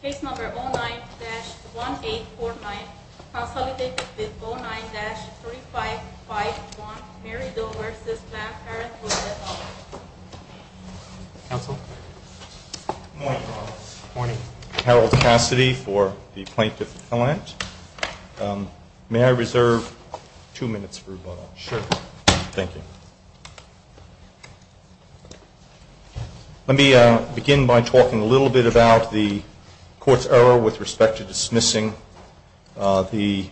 Case number 09-1849, consolidated with 09-3551, Mary Doe v. Planned Parenthood. Counsel? Good morning, Your Honor. Good morning. Harold Cassidy for the Plaintiff's Defendant. May I reserve two minutes for rebuttal? Sure. Thank you. Let me begin by talking a little bit about the Court's error with respect to dismissing the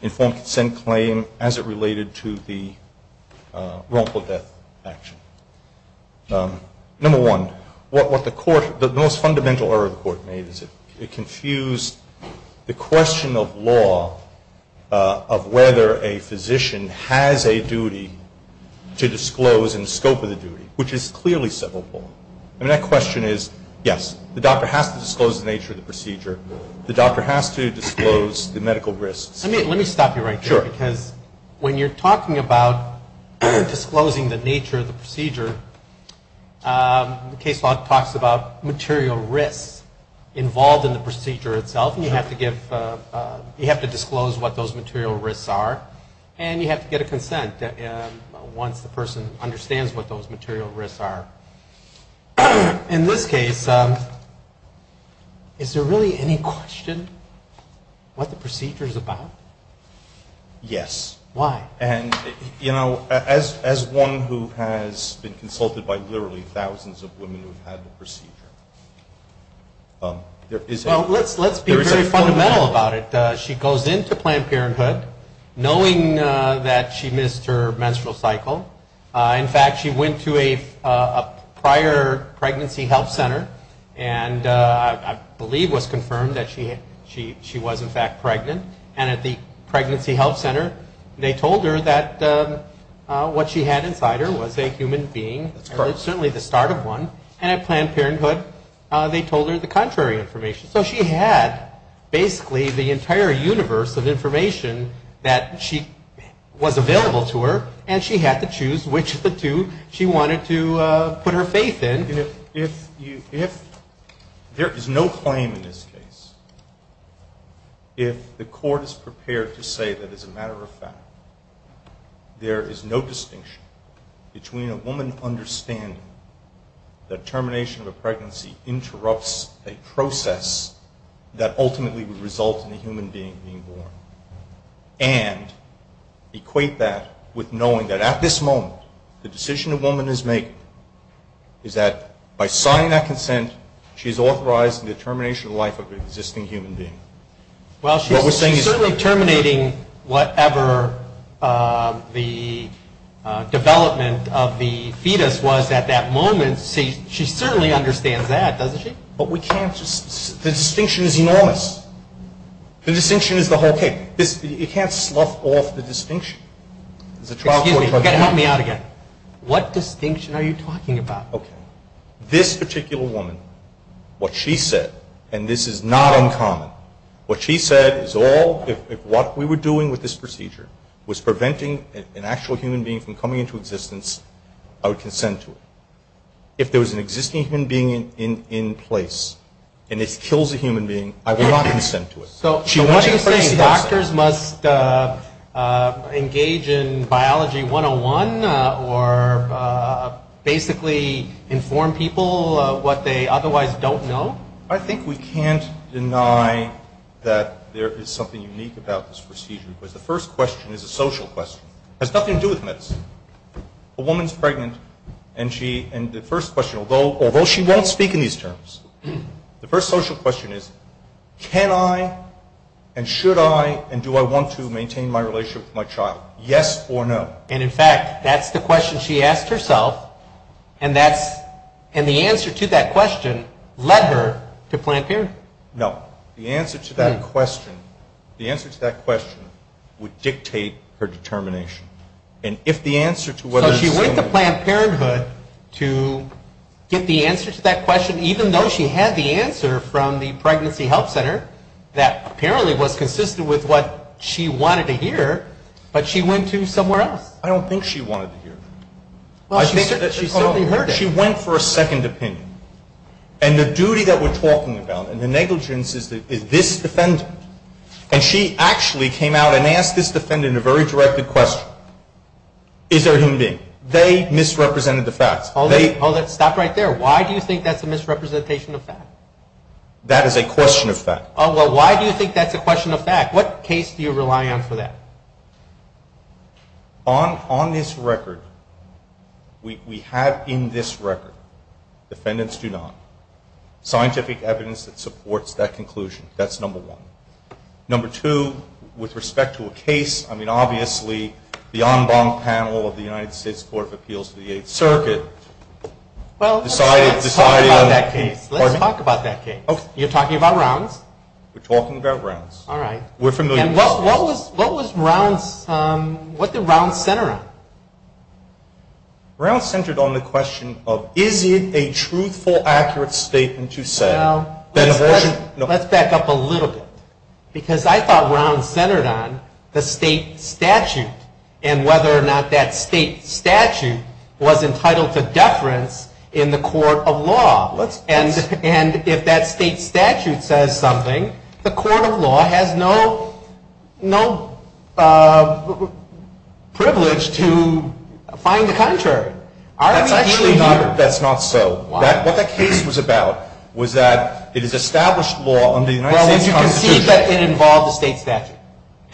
informed consent claim as it related to the wrongful death action. Number one, what the Court, the most fundamental error the Court made is it confused the question of law of whether a physician has a duty to disclose in scope of the duty, which is clearly civil. I mean, that question is, yes, the doctor has to disclose the nature of the procedure. The doctor has to disclose the medical risks. Let me stop you right there. Sure. Because when you're talking about disclosing the nature of the procedure, the case law talks about material risks involved in the procedure itself. You have to disclose what those material risks are, and you have to get a consent once the person understands what those material risks are. In this case, is there really any question what the procedure is about? Yes. Why? And, you know, as one who has been consulted by literally thousands of women who have had the procedure, there is a fundamental error. Well, let's be very fundamental about it. She goes into Planned Parenthood knowing that she missed her menstrual cycle. In fact, she went to a prior pregnancy health center and, I believe, was confirmed that she was, in fact, pregnant. And at the pregnancy health center, they told her that what she had inside her was a human being, certainly the start of one. And at Planned Parenthood, they told her the contrary information. So she had basically the entire universe of information that was available to her, and she had to choose which of the two she wanted to put her faith in. If there is no claim in this case, if the court is prepared to say that, as a matter of fact, there is no distinction between a woman understanding that termination of a pregnancy interrupts a process that ultimately would result in a human being being born, and equate that with knowing that, at this moment, the decision a woman is making is that, by signing that consent, she is authorized in the termination of the life of an existing human being. Well, she's certainly terminating whatever the development of the fetus was at that moment. She certainly understands that, doesn't she? But we can't just – the distinction is enormous. The distinction is the whole case. You can't slough off the distinction. Excuse me. Help me out again. What distinction are you talking about? This particular woman, what she said, and this is not uncommon, what she said is all, if what we were doing with this procedure was preventing an actual human being from coming into existence, I would consent to it. If there was an existing human being in place and it kills a human being, I would not consent to it. So what are you saying, doctors must engage in biology 101, or basically inform people what they otherwise don't know? I think we can't deny that there is something unique about this procedure, because the first question is a social question. It has nothing to do with medicine. A woman is pregnant, and the first question, although she won't speak in these terms, the first social question is, can I and should I and do I want to maintain my relationship with my child, yes or no? And in fact, that's the question she asked herself, and the answer to that question led her to Planned Parenthood. No. The answer to that question would dictate her determination. So she went to Planned Parenthood to get the answer to that question, even though she had the answer from the Pregnancy Help Center that apparently was consistent with what she wanted to hear, but she went to somewhere else. I don't think she wanted to hear it. She certainly heard it. She went for a second opinion. And the duty that we're talking about and the negligence is this defendant. And she actually came out and asked this defendant a very directed question. Is there a human being? They misrepresented the facts. Stop right there. Why do you think that's a misrepresentation of fact? That is a question of fact. Well, why do you think that's a question of fact? What case do you rely on for that? On this record, we have in this record, defendants do not, scientific evidence that supports that conclusion. That's number one. Number two, with respect to a case, I mean, obviously, the en banc panel of the United States Court of Appeals to the Eighth Circuit decided. Well, let's talk about that case. Pardon me? Let's talk about that case. Okay. You're talking about Rounds? We're talking about Rounds. All right. We're familiar with Rounds. And what was Rounds, what did Rounds center on? Rounds centered on the question of is it a truthful, accurate statement to say that abortion. Let's back up a little bit because I thought Rounds centered on the state statute and whether or not that state statute was entitled to deference in the court of law. And if that state statute says something, the court of law has no privilege to find the contrary. That's actually not so. Why? What that case was about was that it is established law under the United States Constitution. Well, you can see that it involves a state statute.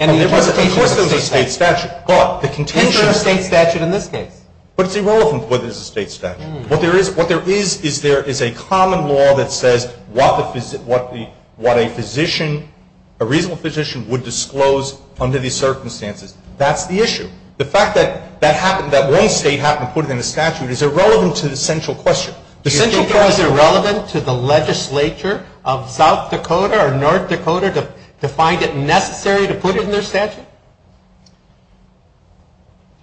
And the interpretation of a state statute. Of course there's a state statute. But the contention is. Enter a state statute in this case. But it's irrelevant whether there's a state statute. What there is is there is a common law that says what a physician, a reasonable physician would disclose under these circumstances. That's the issue. The fact that that happened, that one state happened to put it in the statute, is irrelevant to the central question. Is it irrelevant to the legislature of South Dakota or North Dakota to find it necessary to put it in their statute?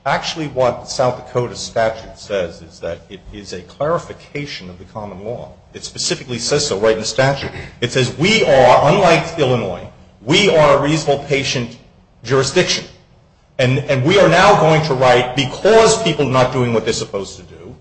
Actually what the South Dakota statute says is that it is a clarification of the common law. It specifically says so right in the statute. It says we are, unlike Illinois, we are a reasonable patient jurisdiction. And we are now going to write, because people are not doing what they're supposed to do,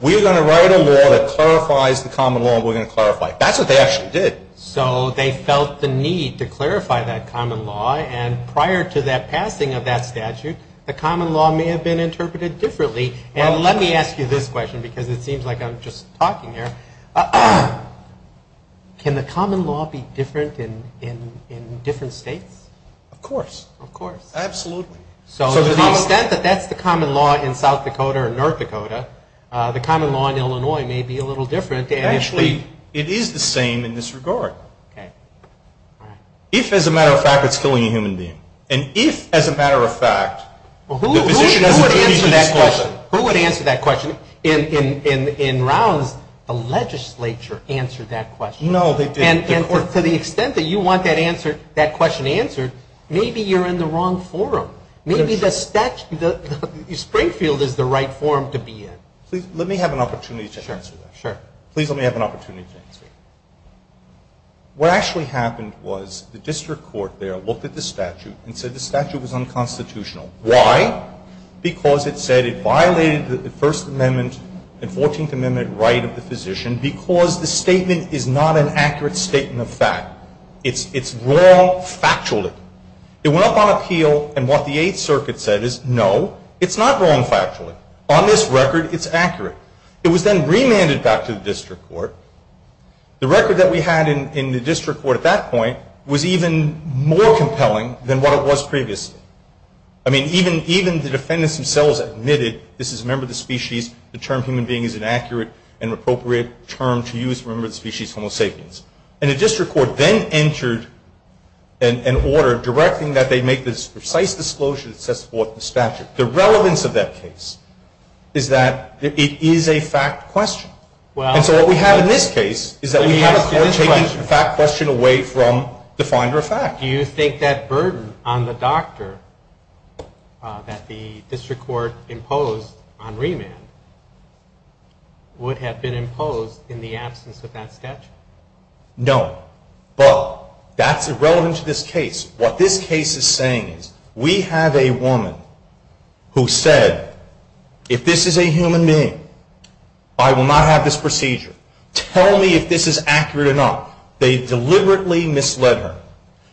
we are going to write a law that clarifies the common law and we're going to clarify it. That's what they actually did. So they felt the need to clarify that common law. And prior to that passing of that statute, the common law may have been interpreted differently. And let me ask you this question because it seems like I'm just talking here. Can the common law be different in different states? Of course. Of course. Absolutely. So to the extent that that's the common law in South Dakota or North Dakota, the common law in Illinois may be a little different. Actually, it is the same in this regard. Okay. All right. If, as a matter of fact, it's killing a human being. And if, as a matter of fact, the physician doesn't treat you to this question. Who would answer that question? In Rouse, the legislature answered that question. No, they didn't. And to the extent that you want that question answered, maybe you're in the wrong forum. Maybe Springfield is the right forum to be in. Let me have an opportunity to answer that. Sure. Please let me have an opportunity to answer that. What actually happened was the district court there looked at the statute and said the statute was unconstitutional. Why? Because it said it violated the First Amendment and 14th Amendment right of the physician because the statement is not an accurate statement of fact. It's wrong factually. It went up on appeal, and what the Eighth Circuit said is, no, it's not wrong factually. On this record, it's accurate. It was then remanded back to the district court. The record that we had in the district court at that point was even more compelling than what it was previously. I mean, even the defendants themselves admitted, this is a member of the species, the term human being is an accurate and appropriate term to use for a member of the species, homo sapiens. And the district court then entered an order directing that they make this precise disclosure that sets forth the statute. The relevance of that case is that it is a fact question. And so what we have in this case is that we have a court taking the fact question away from the finder of fact. But do you think that burden on the doctor that the district court imposed on remand would have been imposed in the absence of that statute? No. But that's irrelevant to this case. What this case is saying is we have a woman who said, if this is a human being, I will not have this procedure. Tell me if this is accurate or not. They deliberately misled her.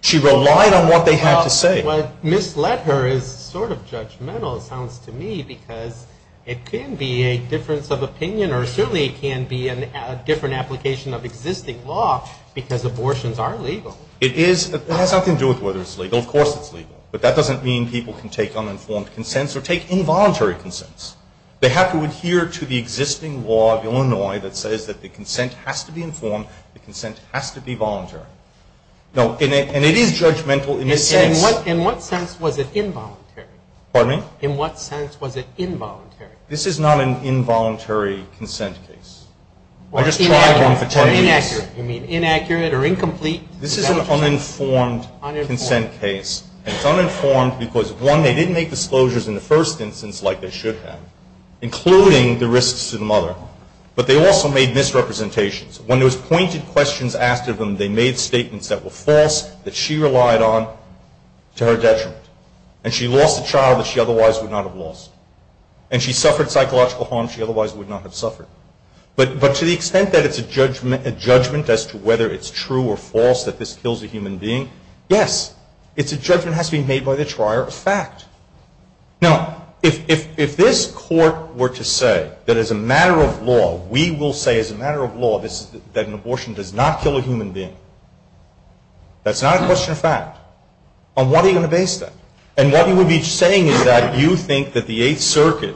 She relied on what they had to say. Well, misled her is sort of judgmental, it sounds to me, because it can be a difference of opinion or certainly it can be a different application of existing law because abortions are legal. It is. It has nothing to do with whether it's legal. Of course it's legal. But that doesn't mean people can take uninformed consents or take involuntary consents. The consent has to be voluntary. And it is judgmental in a sense. In what sense was it involuntary? Pardon me? In what sense was it involuntary? This is not an involuntary consent case. I'm just trying to tell you this. You mean inaccurate or incomplete? This is an uninformed consent case. It's uninformed because, one, they didn't make disclosures in the first instance like they should have, including the risks to the mother. But they also made misrepresentations. When there was pointed questions asked of them, they made statements that were false, that she relied on, to her detriment. And she lost a child that she otherwise would not have lost. And she suffered psychological harm she otherwise would not have suffered. But to the extent that it's a judgment as to whether it's true or false that this kills a human being, yes. It's a judgment that has to be made by the trier of fact. Now, if this court were to say that as a matter of law, we will say as a matter of law that an abortion does not kill a human being, that's not a question of fact, on what are you going to base that? And what you would be saying is that you think that the Eighth Circuit,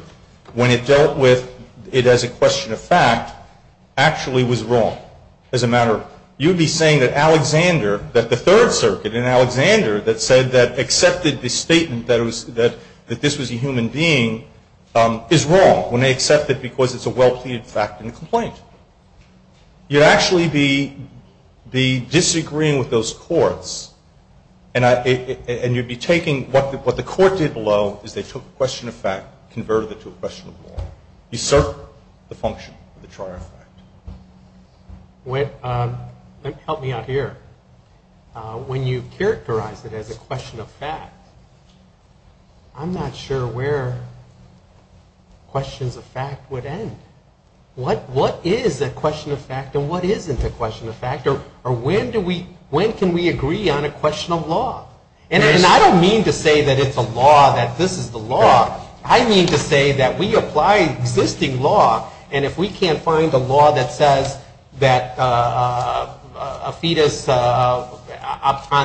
when it dealt with it as a question of fact, actually was wrong as a matter of fact. You would be saying that Alexander, that the Third Circuit, and Alexander that said that accepted the statement that this was a human being, is wrong when they accept it because it's a well-pleaded fact in the complaint. You'd actually be disagreeing with those courts, and you'd be taking what the court did below as they took a question of fact, converted it to a question of law. You served the function of the trier of fact. Help me out here. When you characterize it as a question of fact, I'm not sure where questions of fact would end. What is a question of fact and what isn't a question of fact, or when can we agree on a question of law? And I don't mean to say that it's a law, that this is the law. I mean to say that we apply existing law, and if we can't find a law that says that a fetus on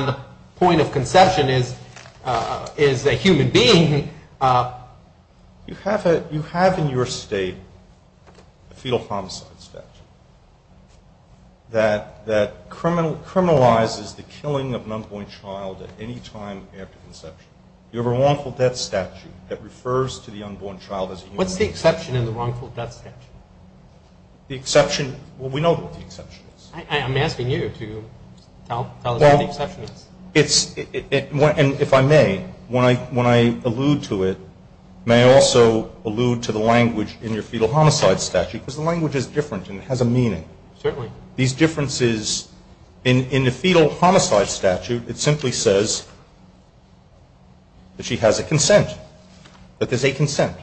the point of conception is a human being. You have in your state a fetal homicide statute that criminalizes the killing of an unborn child at any time after conception. You have a wrongful death statute that refers to the unborn child as a human being. What's the exception in the wrongful death statute? The exception? Well, we know what the exception is. I'm asking you to tell us what the exception is. And if I may, when I allude to it, may I also allude to the language in your fetal homicide statute? Because the language is different and it has a meaning. Certainly. These differences in the fetal homicide statute, it simply says that she has a consent, that there's a consent.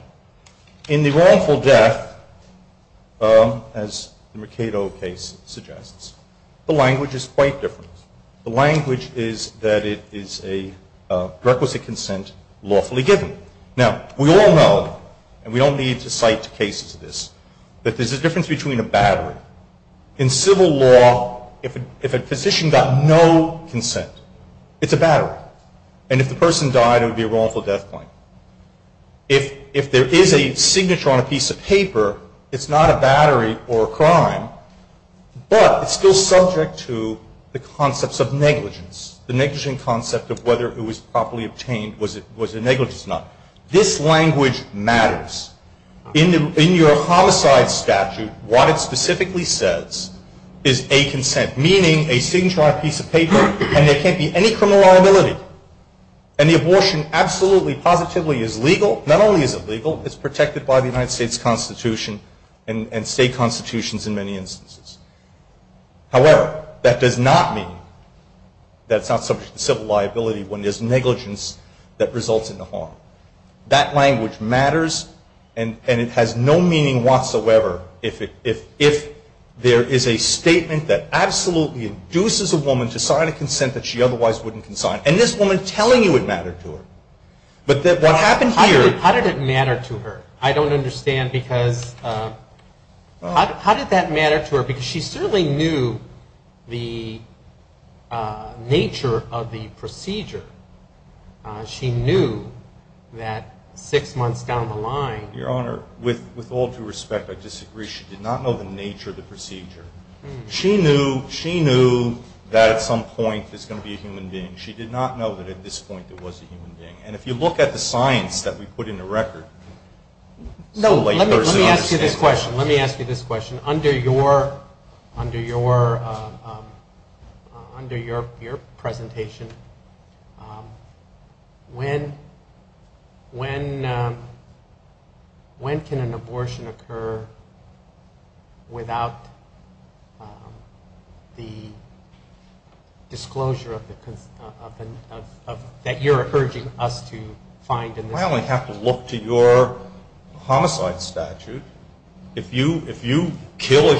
In the wrongful death, as the Mercado case suggests, the language is quite different. The language is that it is a requisite consent lawfully given. Now, we all know, and we don't need to cite cases of this, that there's a difference between a battery. In civil law, if a physician got no consent, it's a battery. And if the person died, it would be a wrongful death claim. If there is a signature on a piece of paper, it's not a battery or a crime, but it's still subject to the concepts of negligence, the negligent concept of whether it was properly obtained was a negligence or not. This language matters. In your homicide statute, what it specifically says is a consent, meaning a signature on a piece of paper, and there can't be any criminal liability. And the abortion absolutely positively is legal. Not only is it legal, it's protected by the United States Constitution and state constitutions in many instances. However, that does not mean that it's not subject to civil liability when there's negligence that results in the harm. That language matters, and it has no meaning whatsoever if there is a statement that absolutely induces a woman to sign a consent that she otherwise wouldn't consign, and this woman telling you it mattered to her. But what happened here... How did it matter to her? I don't understand because... How did that matter to her? Because she certainly knew the nature of the procedure. She knew that six months down the line... Your Honor, with all due respect, I disagree. She did not know the nature of the procedure. She knew that at some point there's going to be a human being. She did not know that at this point there was a human being. And if you look at the science that we put in the record... No, let me ask you this question. Let me ask you this question. Under your presentation, when can an abortion occur without the disclosure that you're urging us to find? I only have to look to your homicide statute. If you kill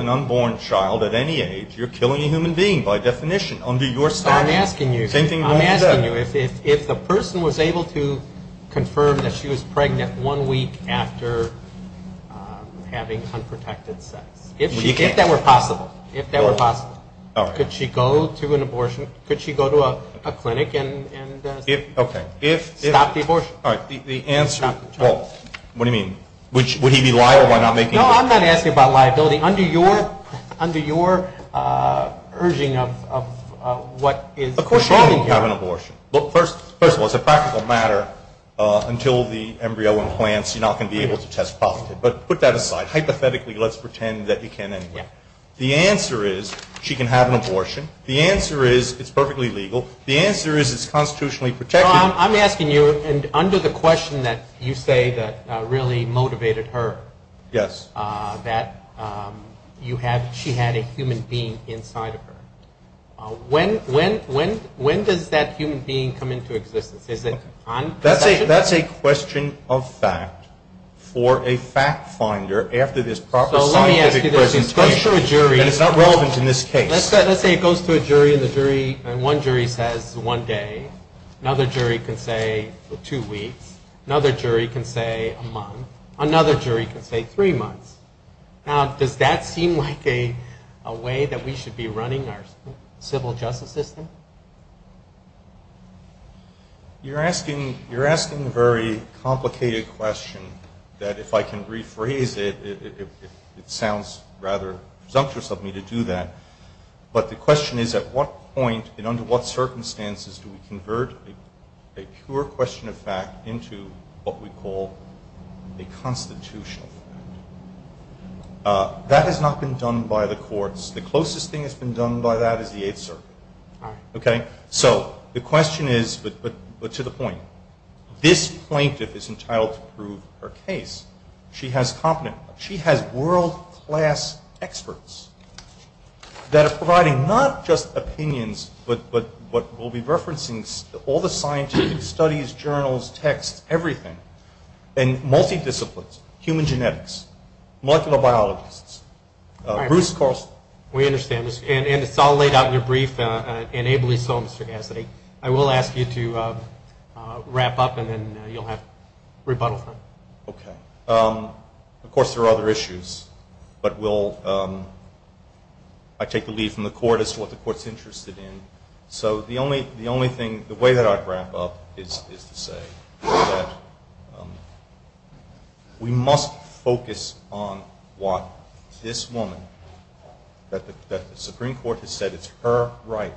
an unborn child at any age, you're killing a human being by definition under your statute. I'm asking you if the person was able to confirm that she was pregnant one week after having unprotected sex. If that were possible. If that were possible. Could she go to an abortion... Could she go to a clinic and stop the abortion? All right. The answer... What do you mean? Would he be liable by not making... No, I'm not asking about liability. Under your urging of what is... Of course she can't have an abortion. First of all, it's a practical matter. Until the embryo implants, you're not going to be able to test positive. But put that aside. Hypothetically, let's pretend that you can anyway. The answer is she can have an abortion. The answer is it's perfectly legal. The answer is it's constitutionally protected. I'm asking you, under the question that you say that really motivated her... Yes. ...that she had a human being inside of her. When does that human being come into existence? Is it on possession? That's a question of fact for a fact finder after this proper scientific presentation. So let me ask you this. It goes to a jury... And it's not relevant in this case. Let's say it goes to a jury, and one jury says one day. Another jury can say two weeks. Another jury can say a month. Another jury can say three months. Now, does that seem like a way that we should be running our civil justice system? You're asking a very complicated question that, if I can rephrase it, it sounds rather presumptuous of me to do that. But the question is, at what point and under what circumstances do we convert a pure question of fact into what we call a constitutional fact? That has not been done by the courts. The closest thing that's been done by that is the Eighth Circuit. So the question is, but to the point, this plaintiff is entitled to prove her case. She has world-class experts that are providing not just opinions but will be referencing all the scientific studies, journals, texts, everything, and multi-disciplines, human genetics, molecular biologists. Bruce Corsel. We understand. And it's all laid out in your brief, and ably so, Mr. Gasset. I will ask you to wrap up, and then you'll have rebuttal time. Okay. Of course, there are other issues. But I take the lead from the court as to what the court's interested in. So the only thing, the way that I'd wrap up is to say that we must focus on what this woman, that the Supreme Court has said it's her right,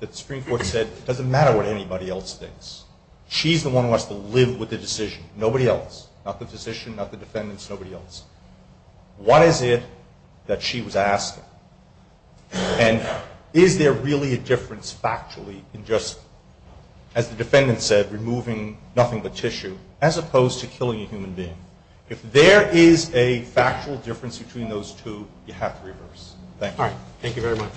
that the Supreme Court said it doesn't matter what anybody else thinks. She's the one who has to live with the decision, nobody else, not the physician, not the defendants, nobody else. What is it that she was asking? And is there really a difference factually in just, as the defendant said, removing nothing but tissue, as opposed to killing a human being? If there is a factual difference between those two, you have to reverse. Thank you. All right. Thank you very much.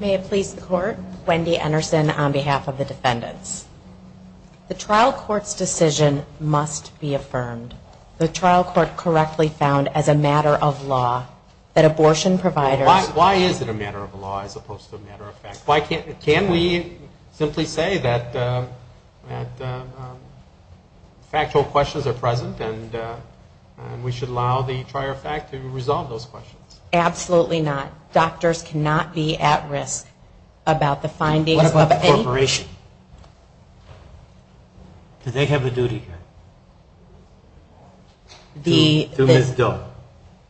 May it please the Court. Wendy Anderson on behalf of the defendants. The trial court's decision must be affirmed. The trial court correctly found as a matter of law that abortion providers Why is it a matter of law as opposed to a matter of fact? Can we simply say that factual questions are present and we should allow the trier fact to resolve those questions? Absolutely not. Doctors cannot be at risk about the findings of any What about the corporation? Do they have a duty here? To Ms. Dill?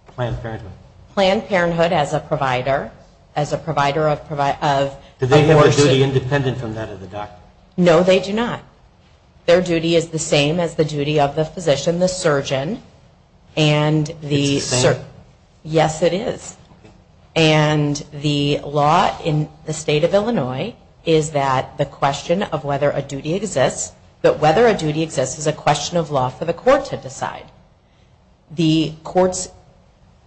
Planned Parenthood. Planned Parenthood as a provider. Do they have a duty independent from that of the doctor? No, they do not. Their duty is the same as the duty of the physician, the surgeon. It's the same? Yes, it is. And the law in the state of Illinois is that the question of whether a duty exists, but whether a duty exists is a question of law for the court to decide. The courts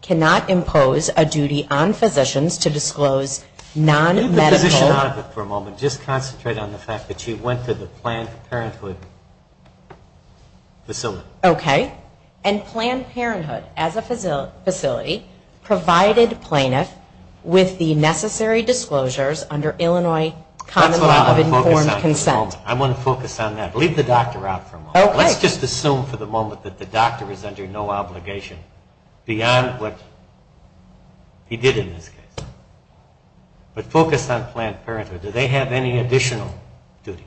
cannot impose a duty on physicians to disclose non-medical Leave the physician out of it for a moment. Just concentrate on the fact that you went to the Planned Parenthood facility. Okay. And Planned Parenthood as a facility provided plaintiff with the necessary disclosures under Illinois common law of informed consent. That's what I want to focus on for a moment. I want to focus on that. Leave the doctor out for a moment. Let's just assume for the moment that the doctor is under no obligation beyond what he did in this case. But focus on Planned Parenthood. Do they have any additional duties?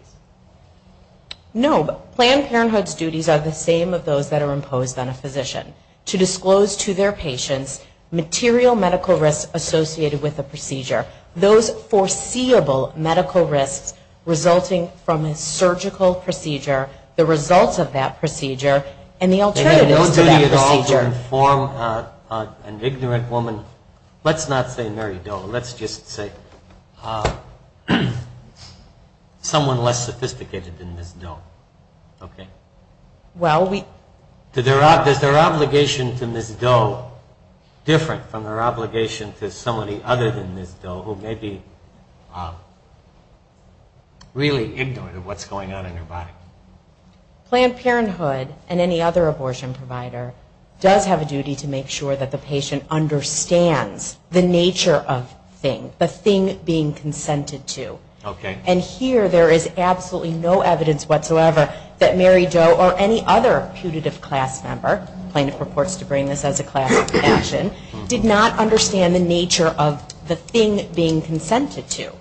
No, but Planned Parenthood's duties are the same of those that are imposed on a physician. To disclose to their patients material medical risks associated with a procedure. Those foreseeable medical risks resulting from a surgical procedure. The results of that procedure and the alternatives to that procedure. They have no duty at all to inform an ignorant woman. Let's not say Mary Doe. Let's just say someone less sophisticated than Ms. Doe. Okay. Well, we Does their obligation to Ms. Doe different from their obligation to somebody other than Ms. Doe who may be really ignorant of what's going on in their body? Planned Parenthood and any other abortion provider does have a duty to make sure that the patient understands the nature of thing. The thing being consented to. Okay. And here there is absolutely no evidence whatsoever that Mary Doe or any other putative class member, plaintiff purports to bring this as a class action, did not understand the nature of the thing being consented to.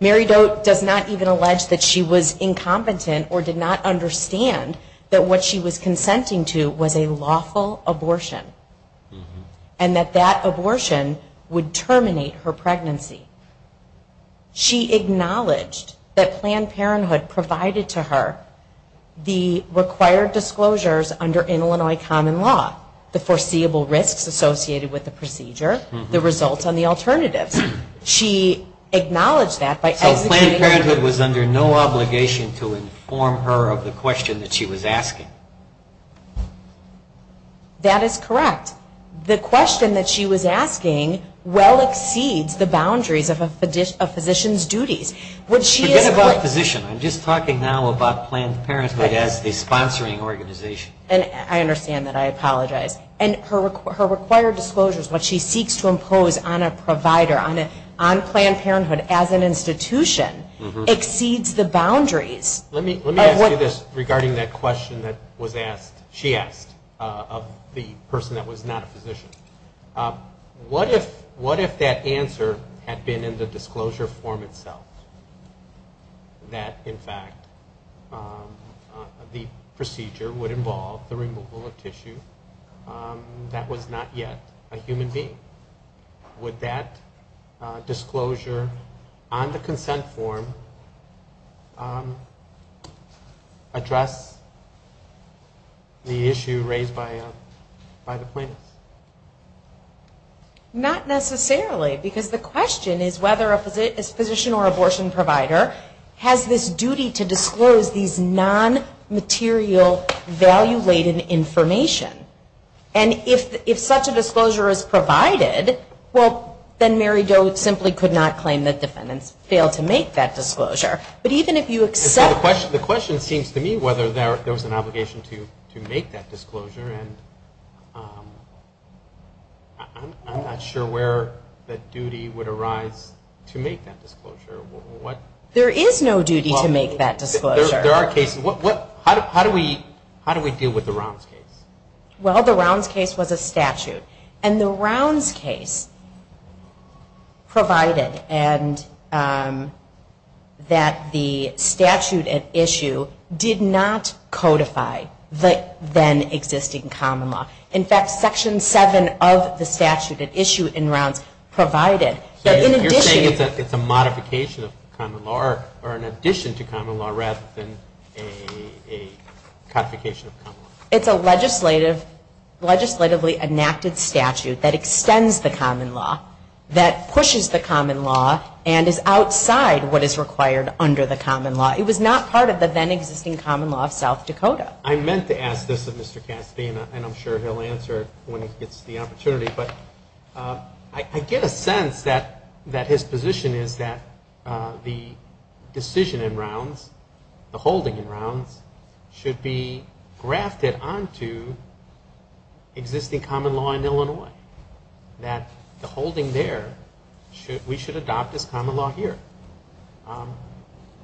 Mary Doe does not even allege that she was incompetent or did not understand that what she was consenting to was a lawful abortion. And that that abortion would terminate her pregnancy. She acknowledged that Planned Parenthood provided to her the required disclosures under Illinois common law. The foreseeable risks associated with the procedure. The results on the alternatives. She acknowledged that by So Planned Parenthood was under no obligation to inform her of the question that she was asking? That is correct. The question that she was asking well exceeds the boundaries of a physician's duties. Would she Forget about physician. I'm just talking now about Planned Parenthood as the sponsoring organization. I understand that. I apologize. And her required disclosures, what she seeks to impose on a provider, on Planned Parenthood as an institution, exceeds the boundaries. Let me ask you this regarding that question that was asked, she asked, of the person that was not a physician. What if that answer had been in the disclosure form itself? That in fact the procedure would involve the removal of tissue that was not yet a human being? Would that disclosure on the consent form address the issue raised by the plaintiffs? Not necessarily. Because the question is whether a physician or abortion provider has this duty to disclose these non-material value-laden information. And if such a disclosure is provided, well, then Mary Doe simply could not claim that defendants failed to make that disclosure. But even if you accept The question seems to me whether there was an obligation to make that disclosure. I'm not sure where the duty would arise to make that disclosure. There is no duty to make that disclosure. There are cases. How do we deal with the Rounds case? Well, the Rounds case was a statute. And the Rounds case provided that the statute at issue did not codify the then existing common law. In fact, Section 7 of the statute at issue in Rounds provided that in addition So you're saying it's a modification of common law or an addition to common law rather than a codification of common law? It's a legislatively enacted statute that extends the common law, that pushes the common law, and is outside what is required under the common law. It was not part of the then existing common law of South Dakota. I meant to ask this of Mr. Cassidy, and I'm sure he'll answer when he gets the opportunity. I get a sense that his position is that the decision in Rounds, the holding in Rounds, should be grafted onto existing common law in Illinois. That the holding there, we should adopt as common law here.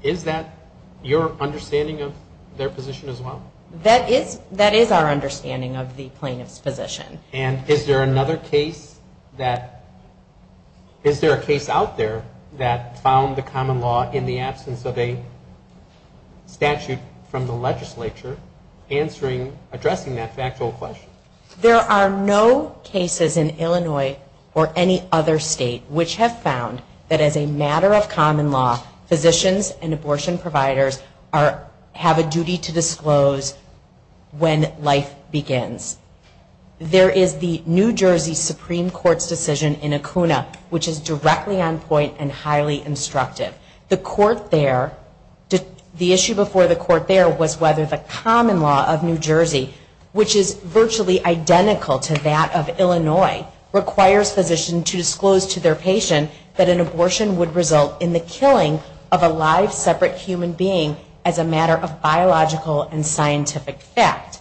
Is that your understanding of their position as well? That is our understanding of the plaintiff's position. And is there another case that, is there a case out there that found the common law in the absence of a statute from the legislature addressing that factual question? There are no cases in Illinois or any other state which have found that as a matter of common law, physicians and abortion providers have a duty to disclose when life begins. There is the New Jersey Supreme Court's decision in Acuna, which is directly on point and highly instructive. The court there, the issue before the court there was whether the common law of New Jersey, which is virtually identical to that of Illinois, requires physicians to disclose to their patient that an abortion would result in the killing of a live, separate human being as a matter of biological and scientific fact.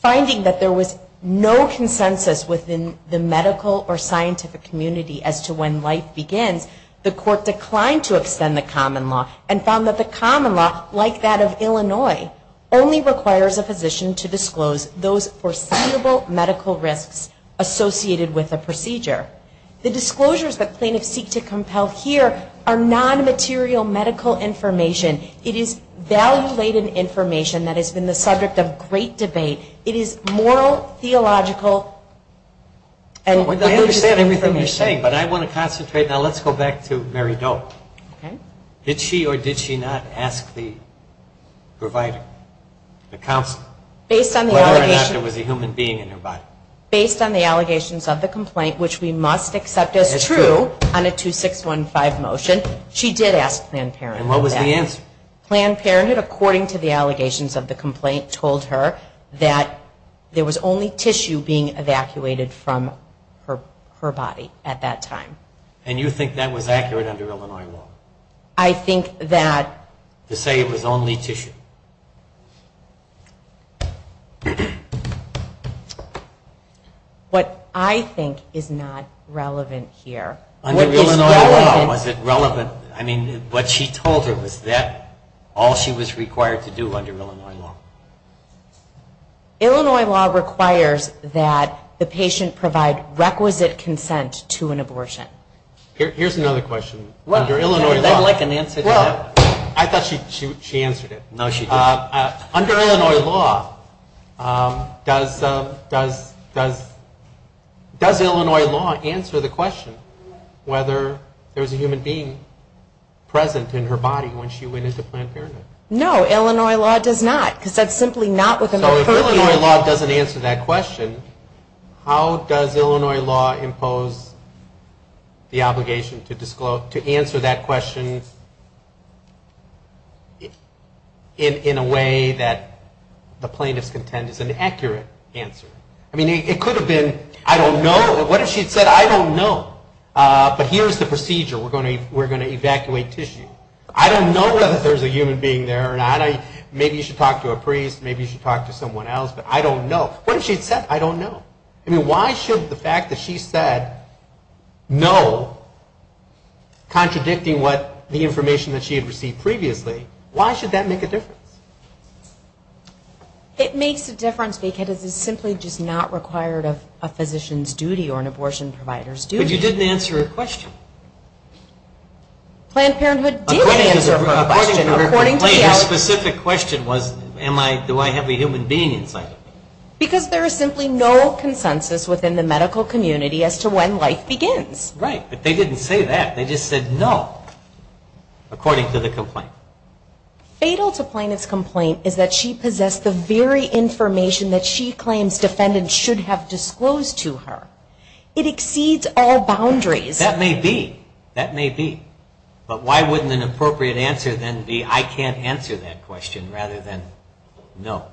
Finding that there was no consensus within the medical or scientific community as to when life begins, the court declined to extend the common law and found that the common law, like that of Illinois, only requires a physician to disclose those foreseeable medical risks associated with a procedure. The disclosures that plaintiffs seek to compel here are non-material medical information. It is value-laden information that has been the subject of great debate. It is moral, theological, and religious information. I understand everything you're saying, but I want to concentrate. Now let's go back to Mary Doe. Did she or did she not ask the provider, the counselor, whether or not there was a human being in her body? Based on the allegations of the complaint, which we must accept as true on a 2615 motion, she did ask Planned Parenthood. And what was the answer? Planned Parenthood, according to the allegations of the complaint, told her that there was only tissue being evacuated from her body at that time. And you think that was accurate under Illinois law? I think that... To say it was only tissue. What I think is not relevant here... Under Illinois law, was it relevant? I mean, what she told her, was that all she was required to do under Illinois law? Illinois law requires that the patient provide requisite consent to an abortion. Here's another question. I'd like an answer to that. I thought she answered it. No, she didn't. Under Illinois law, does Illinois law answer the question whether there was a human being present in her body when she went into Planned Parenthood? No, Illinois law does not. So if Illinois law doesn't answer that question, how does Illinois law impose the obligation to answer that question in a way that the plaintiffs contend is an accurate answer? I mean, it could have been, I don't know. What if she had said, I don't know. But here's the procedure. We're going to evacuate tissue. I don't know whether there's a human being there or not. Maybe you should talk to a priest, maybe you should talk to someone else, but I don't know. What if she had said, I don't know. I mean, why should the fact that she said no, contradicting what the information that she had received previously, why should that make a difference? It makes a difference because it's simply just not required of a physician's duty or an abortion provider's duty. But you didn't answer her question. Planned Parenthood did answer her question. Her specific question was, do I have a human being inside of me? Because there is simply no consensus within the medical community as to when life begins. Right, but they didn't say that. They just said no, according to the complaint. Fatal to Plaintiff's complaint is that she possessed the very information that she claims defendants should have disclosed to her. It exceeds all boundaries. That may be. That may be. But why wouldn't an appropriate answer then be, I can't answer that question, rather than no.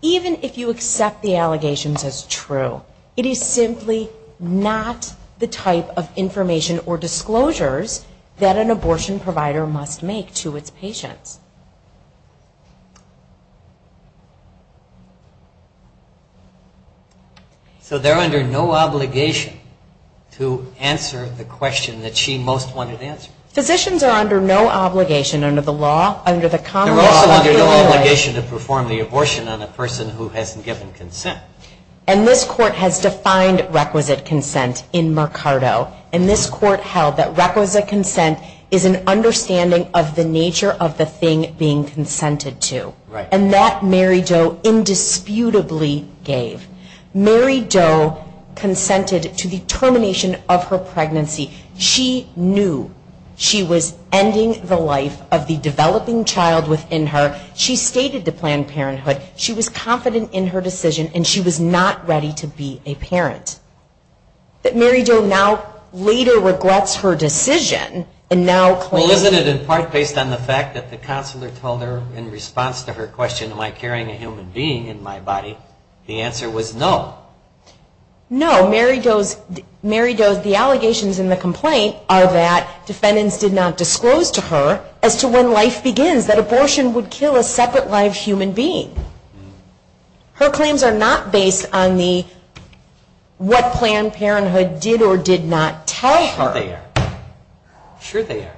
Even if you accept the allegations as true, it is simply not the type of information or disclosures that an abortion provider must make to its patients. So they're under no obligation to answer the question that she most wanted answered. Physicians are under no obligation under the law, under the Congress. They're also under no obligation to perform the abortion on a person who hasn't given consent. And this court has defined requisite consent in Mercado. And this court held that requisite consent is an understanding of the nature of the theory of abortion. And that Mary Doe indisputably gave. Mary Doe consented to the termination of her pregnancy. She knew she was ending the life of the developing child within her. She stated to Planned Parenthood she was confident in her decision and she was not ready to be a parent. That Mary Doe now later regrets her decision and now claims She said in part based on the fact that the counselor told her in response to her question, am I carrying a human being in my body? The answer was no. No, Mary Doe's, Mary Doe's, the allegations in the complaint are that defendants did not disclose to her as to when life begins, that abortion would kill a separate live human being. Her claims are not based on the, what Planned Parenthood did or did not tell her. Sure they are. Sure they are.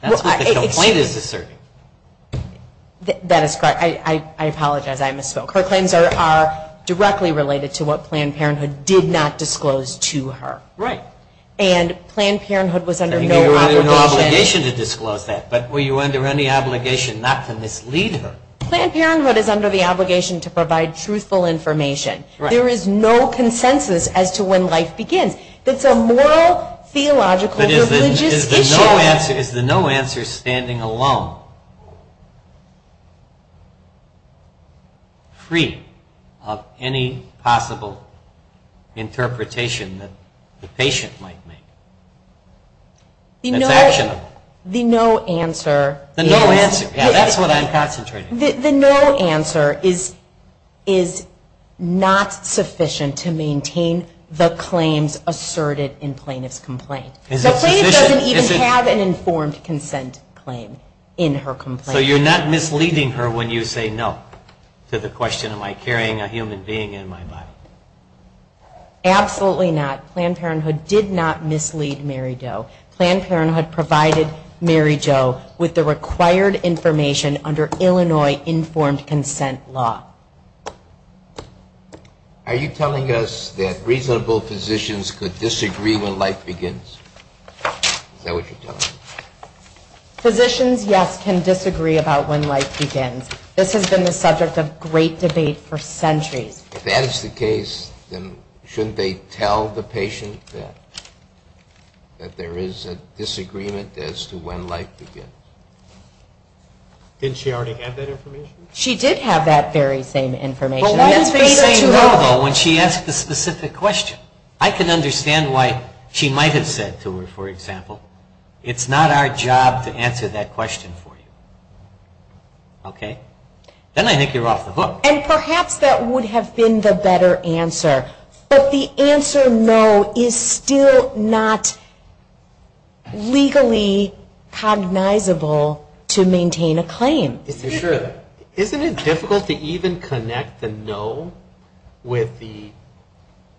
That's what the complaint is asserting. That is correct. I apologize. I misspoke. Her claims are directly related to what Planned Parenthood did not disclose to her. Right. And Planned Parenthood was under no obligation to disclose that. But were you under any obligation not to mislead her? Planned Parenthood is under the obligation to provide truthful information. Right. There is no consensus as to when life begins. It's a moral, theological, privilegious issue. Is the no answer standing alone? Free of any possible interpretation that the patient might make? That's actionable. The no answer is. The no answer. That's what I'm concentrating on. The no answer is not sufficient to maintain the claims asserted in plaintiff's complaint. Is it sufficient? The plaintiff doesn't even have an informed consent claim in her complaint. So you're not misleading her when you say no to the question, am I carrying a human being in my body? Absolutely not. Planned Parenthood did not mislead Mary Jo. Planned Parenthood provided Mary Jo with the required information under Illinois informed consent law. Are you telling us that reasonable physicians could disagree when life begins? Is that what you're telling me? Physicians, yes, can disagree about when life begins. This has been the subject of great debate for centuries. If that is the case, then shouldn't they tell the patient that there is a disagreement as to when life begins? Didn't she already have that information? She did have that very same information. Well, why is she saying no when she asked the specific question? I can understand why she might have said to her, for example, it's not our job to answer that question for you. Okay? Then I think you're off the hook. And perhaps that would have been the better answer, but the answer no is still not legally cognizable to maintain a claim. Isn't it difficult to even connect the no with the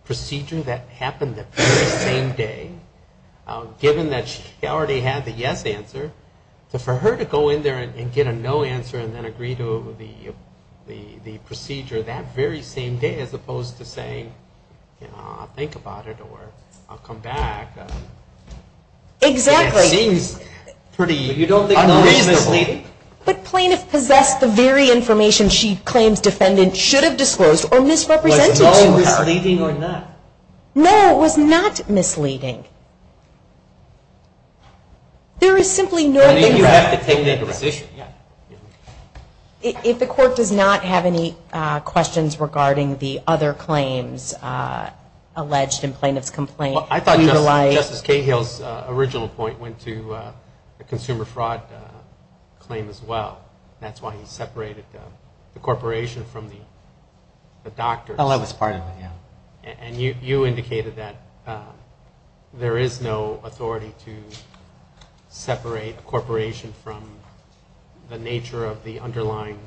procedure that happened the very same day, given that she already had the yes answer, for her to go in there and get a no answer and then agree to the procedure that very same day as opposed to saying, you know, I'll think about it or I'll come back. Exactly. It seems pretty unreasonable. But plaintiff possessed the very information she claims defendant should have disclosed or misrepresented. Was no misleading or not? No, it was not misleading. There is simply no legitimacy. You have to take that decision. If the court does not have any questions regarding the other claims alleged in plaintiff's complaint. Well, I thought Justice Cahill's original point went to the consumer fraud claim as well. That's why he separated the corporation from the doctors. Oh, that was part of it, yeah. And you indicated that there is no authority to separate a corporation from the nature of the underlying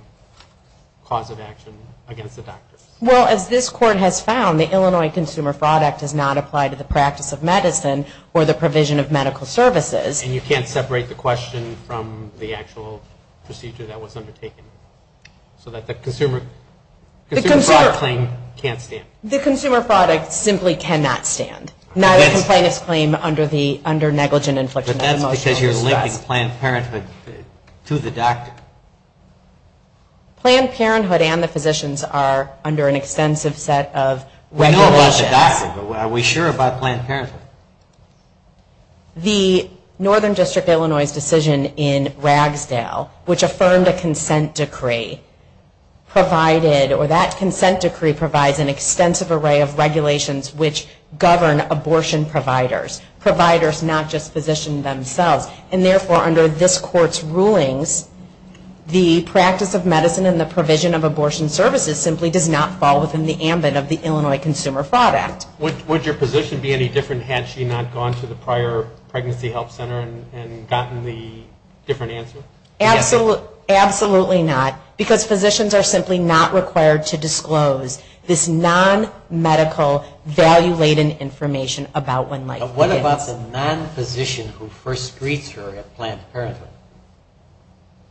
cause of action against the doctors. Well, as this court has found, the Illinois Consumer Fraud Act does not apply to the practice of medicine or the provision of medical services. And you can't separate the question from the actual procedure that was undertaken. So that the consumer fraud claim can't stand. The consumer fraud act simply cannot stand. Neither can plaintiff's claim under negligent infliction of emotional distress. But that's because you're linking Planned Parenthood to the doctor. Planned Parenthood and the physicians are under an extensive set of regulations. We know about the doctor, but are we sure about Planned Parenthood? The Northern District of Illinois' decision in Ragsdale, which affirmed a consent decree, provided, or that consent decree provides an extensive array of regulations which govern abortion providers. Providers, not just physicians themselves. And therefore, under this court's rulings, the practice of medicine and the provision of abortion services simply does not fall within the ambit of the Illinois Consumer Fraud Act. Would your physician be any different had she not gone to the prior pregnancy health center and gotten the different answer? Absolutely not. Because physicians are simply not required to disclose this non-medical value-laden information about when life begins. What about the non-physician who first greets her at Planned Parenthood?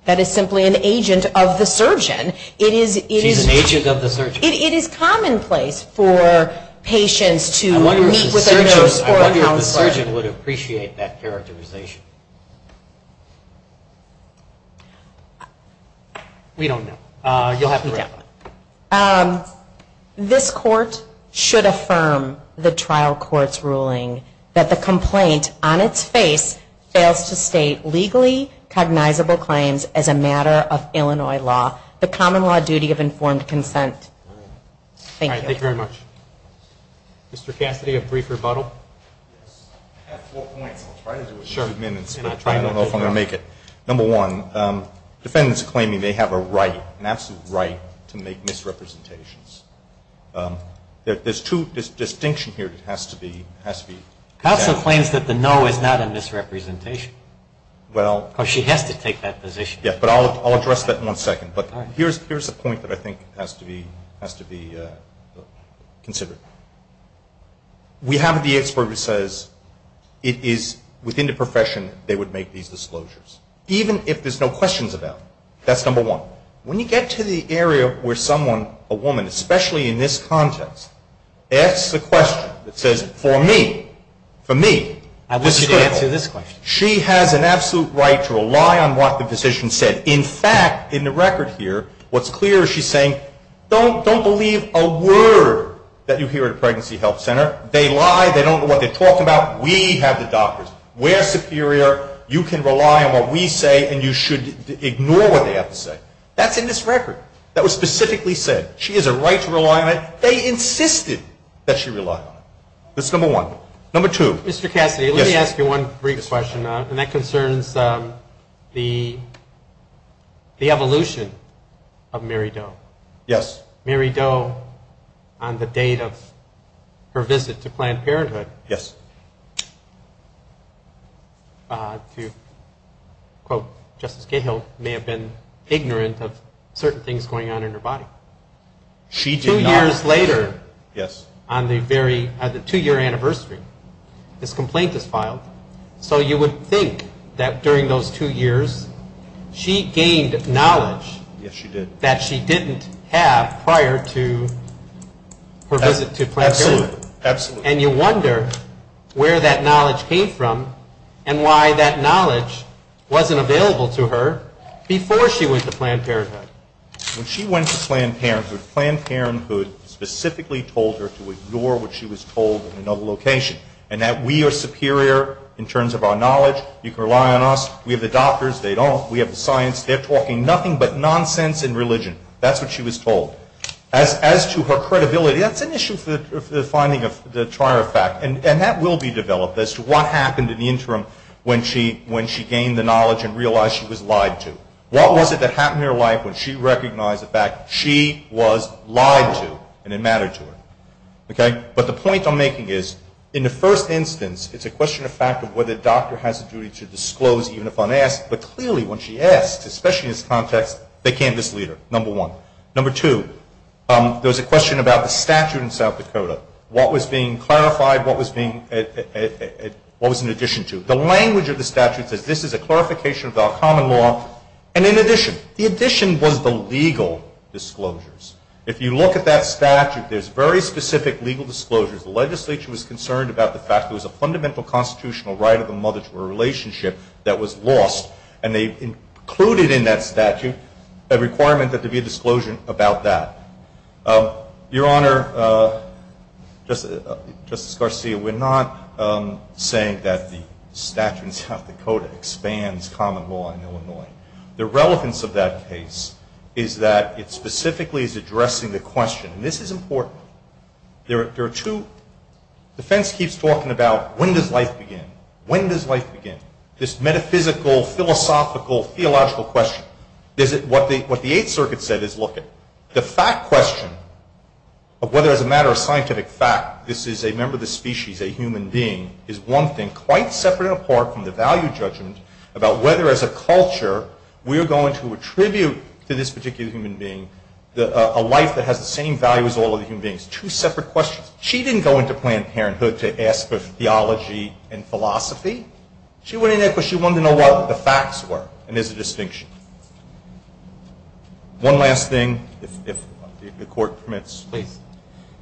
That is simply an agent of the surgeon. She's an agent of the surgeon. It is commonplace for patients to meet with a nurse or a counselor. I wonder if the surgeon would appreciate that characterization. We don't know. You'll have to wrap up. This court should affirm the trial court's ruling that the complaint on its face fails to state legally cognizable claims as a matter of Illinois law, the common law duty of informed consent. Thank you. All right. Thank you very much. Mr. Cassidy, a brief rebuttal? Yes. I have four points. I'll try to do it in a few minutes, but I don't know if I'm going to make it. Number one, defendants claiming they have a right, an absolute right, to make misrepresentations. There's two distinctions here that has to be examined. Counsel claims that the no is not a misrepresentation. Well. Because she has to take that position. Yes, but I'll address that in one second. But here's a point that I think has to be considered. We have the expert who says it is within the profession they would make these disclosures, even if there's no questions about them. That's number one. When you get to the area where someone, a woman, especially in this context, asks the question that says, for me, for me, this is critical. I wish you'd answer this question. She has an absolute right to rely on what the physician said. In fact, in the record here, what's clear is she's saying, don't believe a word that you hear at a pregnancy health center. They lie. They don't know what they're talking about. We have the doctors. We're superior. You can rely on what we say, and you should ignore what they have to say. That's in this record. That was specifically said. She has a right to rely on it. They insisted that she rely on it. That's number one. Number two. Mr. Cassidy, let me ask you one brief question, and that concerns the evolution of Mary Doe. Yes. Mary Doe, on the date of her visit to Planned Parenthood, to quote Justice Cahill, may have been ignorant of certain things going on in her body. She did not. Two years later, on the two-year anniversary, this complaint is filed. So you would think that during those two years she gained knowledge. Yes, she did. That she didn't have prior to her visit to Planned Parenthood. Absolutely. And you wonder where that knowledge came from and why that knowledge wasn't available to her before she went to Planned Parenthood. When she went to Planned Parenthood, Planned Parenthood specifically told her to ignore what she was told in another location and that we are superior in terms of our knowledge. You can rely on us. We have the doctors. They don't. We have the science. They're talking nothing but nonsense and religion. That's what she was told. As to her credibility, that's an issue for the finding of the Trier effect, and that will be developed as to what happened in the interim when she gained the knowledge and realized she was lied to. What was it that happened in her life when she recognized the fact she was lied to and it mattered to her? But the point I'm making is, in the first instance, it's a question of fact of whether the doctor has a duty to disclose even if unasked, but clearly when she asks, especially in this context, they can't just leave her, number one. Number two, there was a question about the statute in South Dakota, what was being clarified, what was in addition to. The language of the statute says this is a clarification of our common law, and in addition. The addition was the legal disclosures. If you look at that statute, there's very specific legal disclosures. The legislature was concerned about the fact there was a fundamental constitutional right of a mother to a relationship that was lost, and they included in that statute a requirement that there be a disclosure about that. Your Honor, Justice Garcia, we're not saying that the statute in South Dakota expands common law in Illinois. The relevance of that case is that it specifically is addressing the question, and this is important. The defense keeps talking about when does life begin, when does life begin, this metaphysical, philosophical, theological question. What the Eighth Circuit said is look, the fact question of whether as a matter of scientific fact this is a member of the species, a human being, is one thing quite separate and apart from the value judgment about whether as a culture we are going to attribute to this particular human being a life that has the same value as all other human beings. Two separate questions. She didn't go into Planned Parenthood to ask for theology and philosophy. She went in there because she wanted to know what the facts were, and there's a distinction. One last thing, if the Court permits. Please.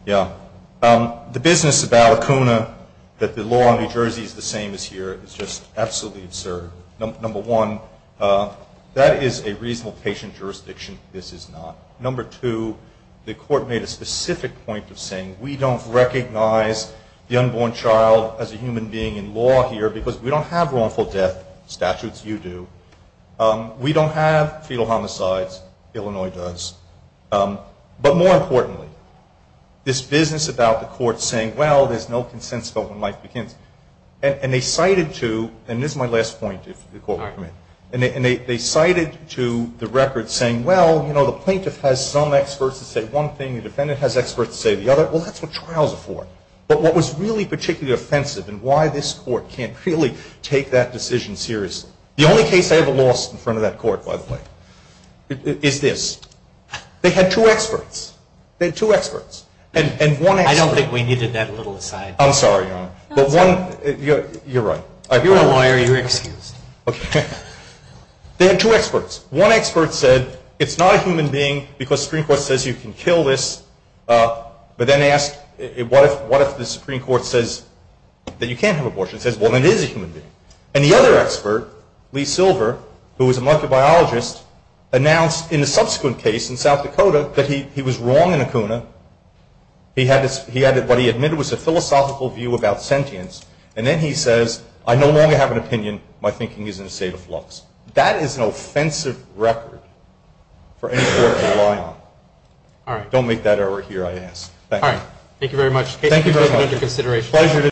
Yeah. The business about ACUNA, that the law in New Jersey is the same as here, is just absolutely absurd. Number one, that is a reasonable patient jurisdiction. This is not. Number two, the Court made a specific point of saying we don't recognize the unborn child as a human being in law here because we don't have wrongful death statutes. You do. We don't have fetal homicides. Illinois does. But more importantly, this business about the Court saying, well, there's no consensus about when life begins. And they cited to, and this is my last point, if the Court will permit, and they cited to the record saying, well, you know, the plaintiff has some experts to say one thing, the defendant has experts to say the other. Well, that's what trials are for. But what was really particularly offensive and why this Court can't really take that decision seriously, the only case I ever lost in front of that Court, by the way, is this. They had two experts. They had two experts. And one expert. I don't think we needed that little aside. I'm sorry, Your Honor. You're right. You're a lawyer. You're excused. Okay. They had two experts. One expert said it's not a human being because Supreme Court says you can kill this, but then asked what if the Supreme Court says that you can't have abortion. It says, well, then it is a human being. And the other expert, Lee Silver, who was a molecular biologist, announced in a subsequent case in South Dakota that he was wrong in Acuna. He had what he admitted was a philosophical view about sentience. And then he says, I no longer have an opinion. My thinking is in a state of flux. That is an offensive record for any Court to rely on. All right. I won't make that error here, I ask. Thank you. All right. Thank you very much. Thank you very much.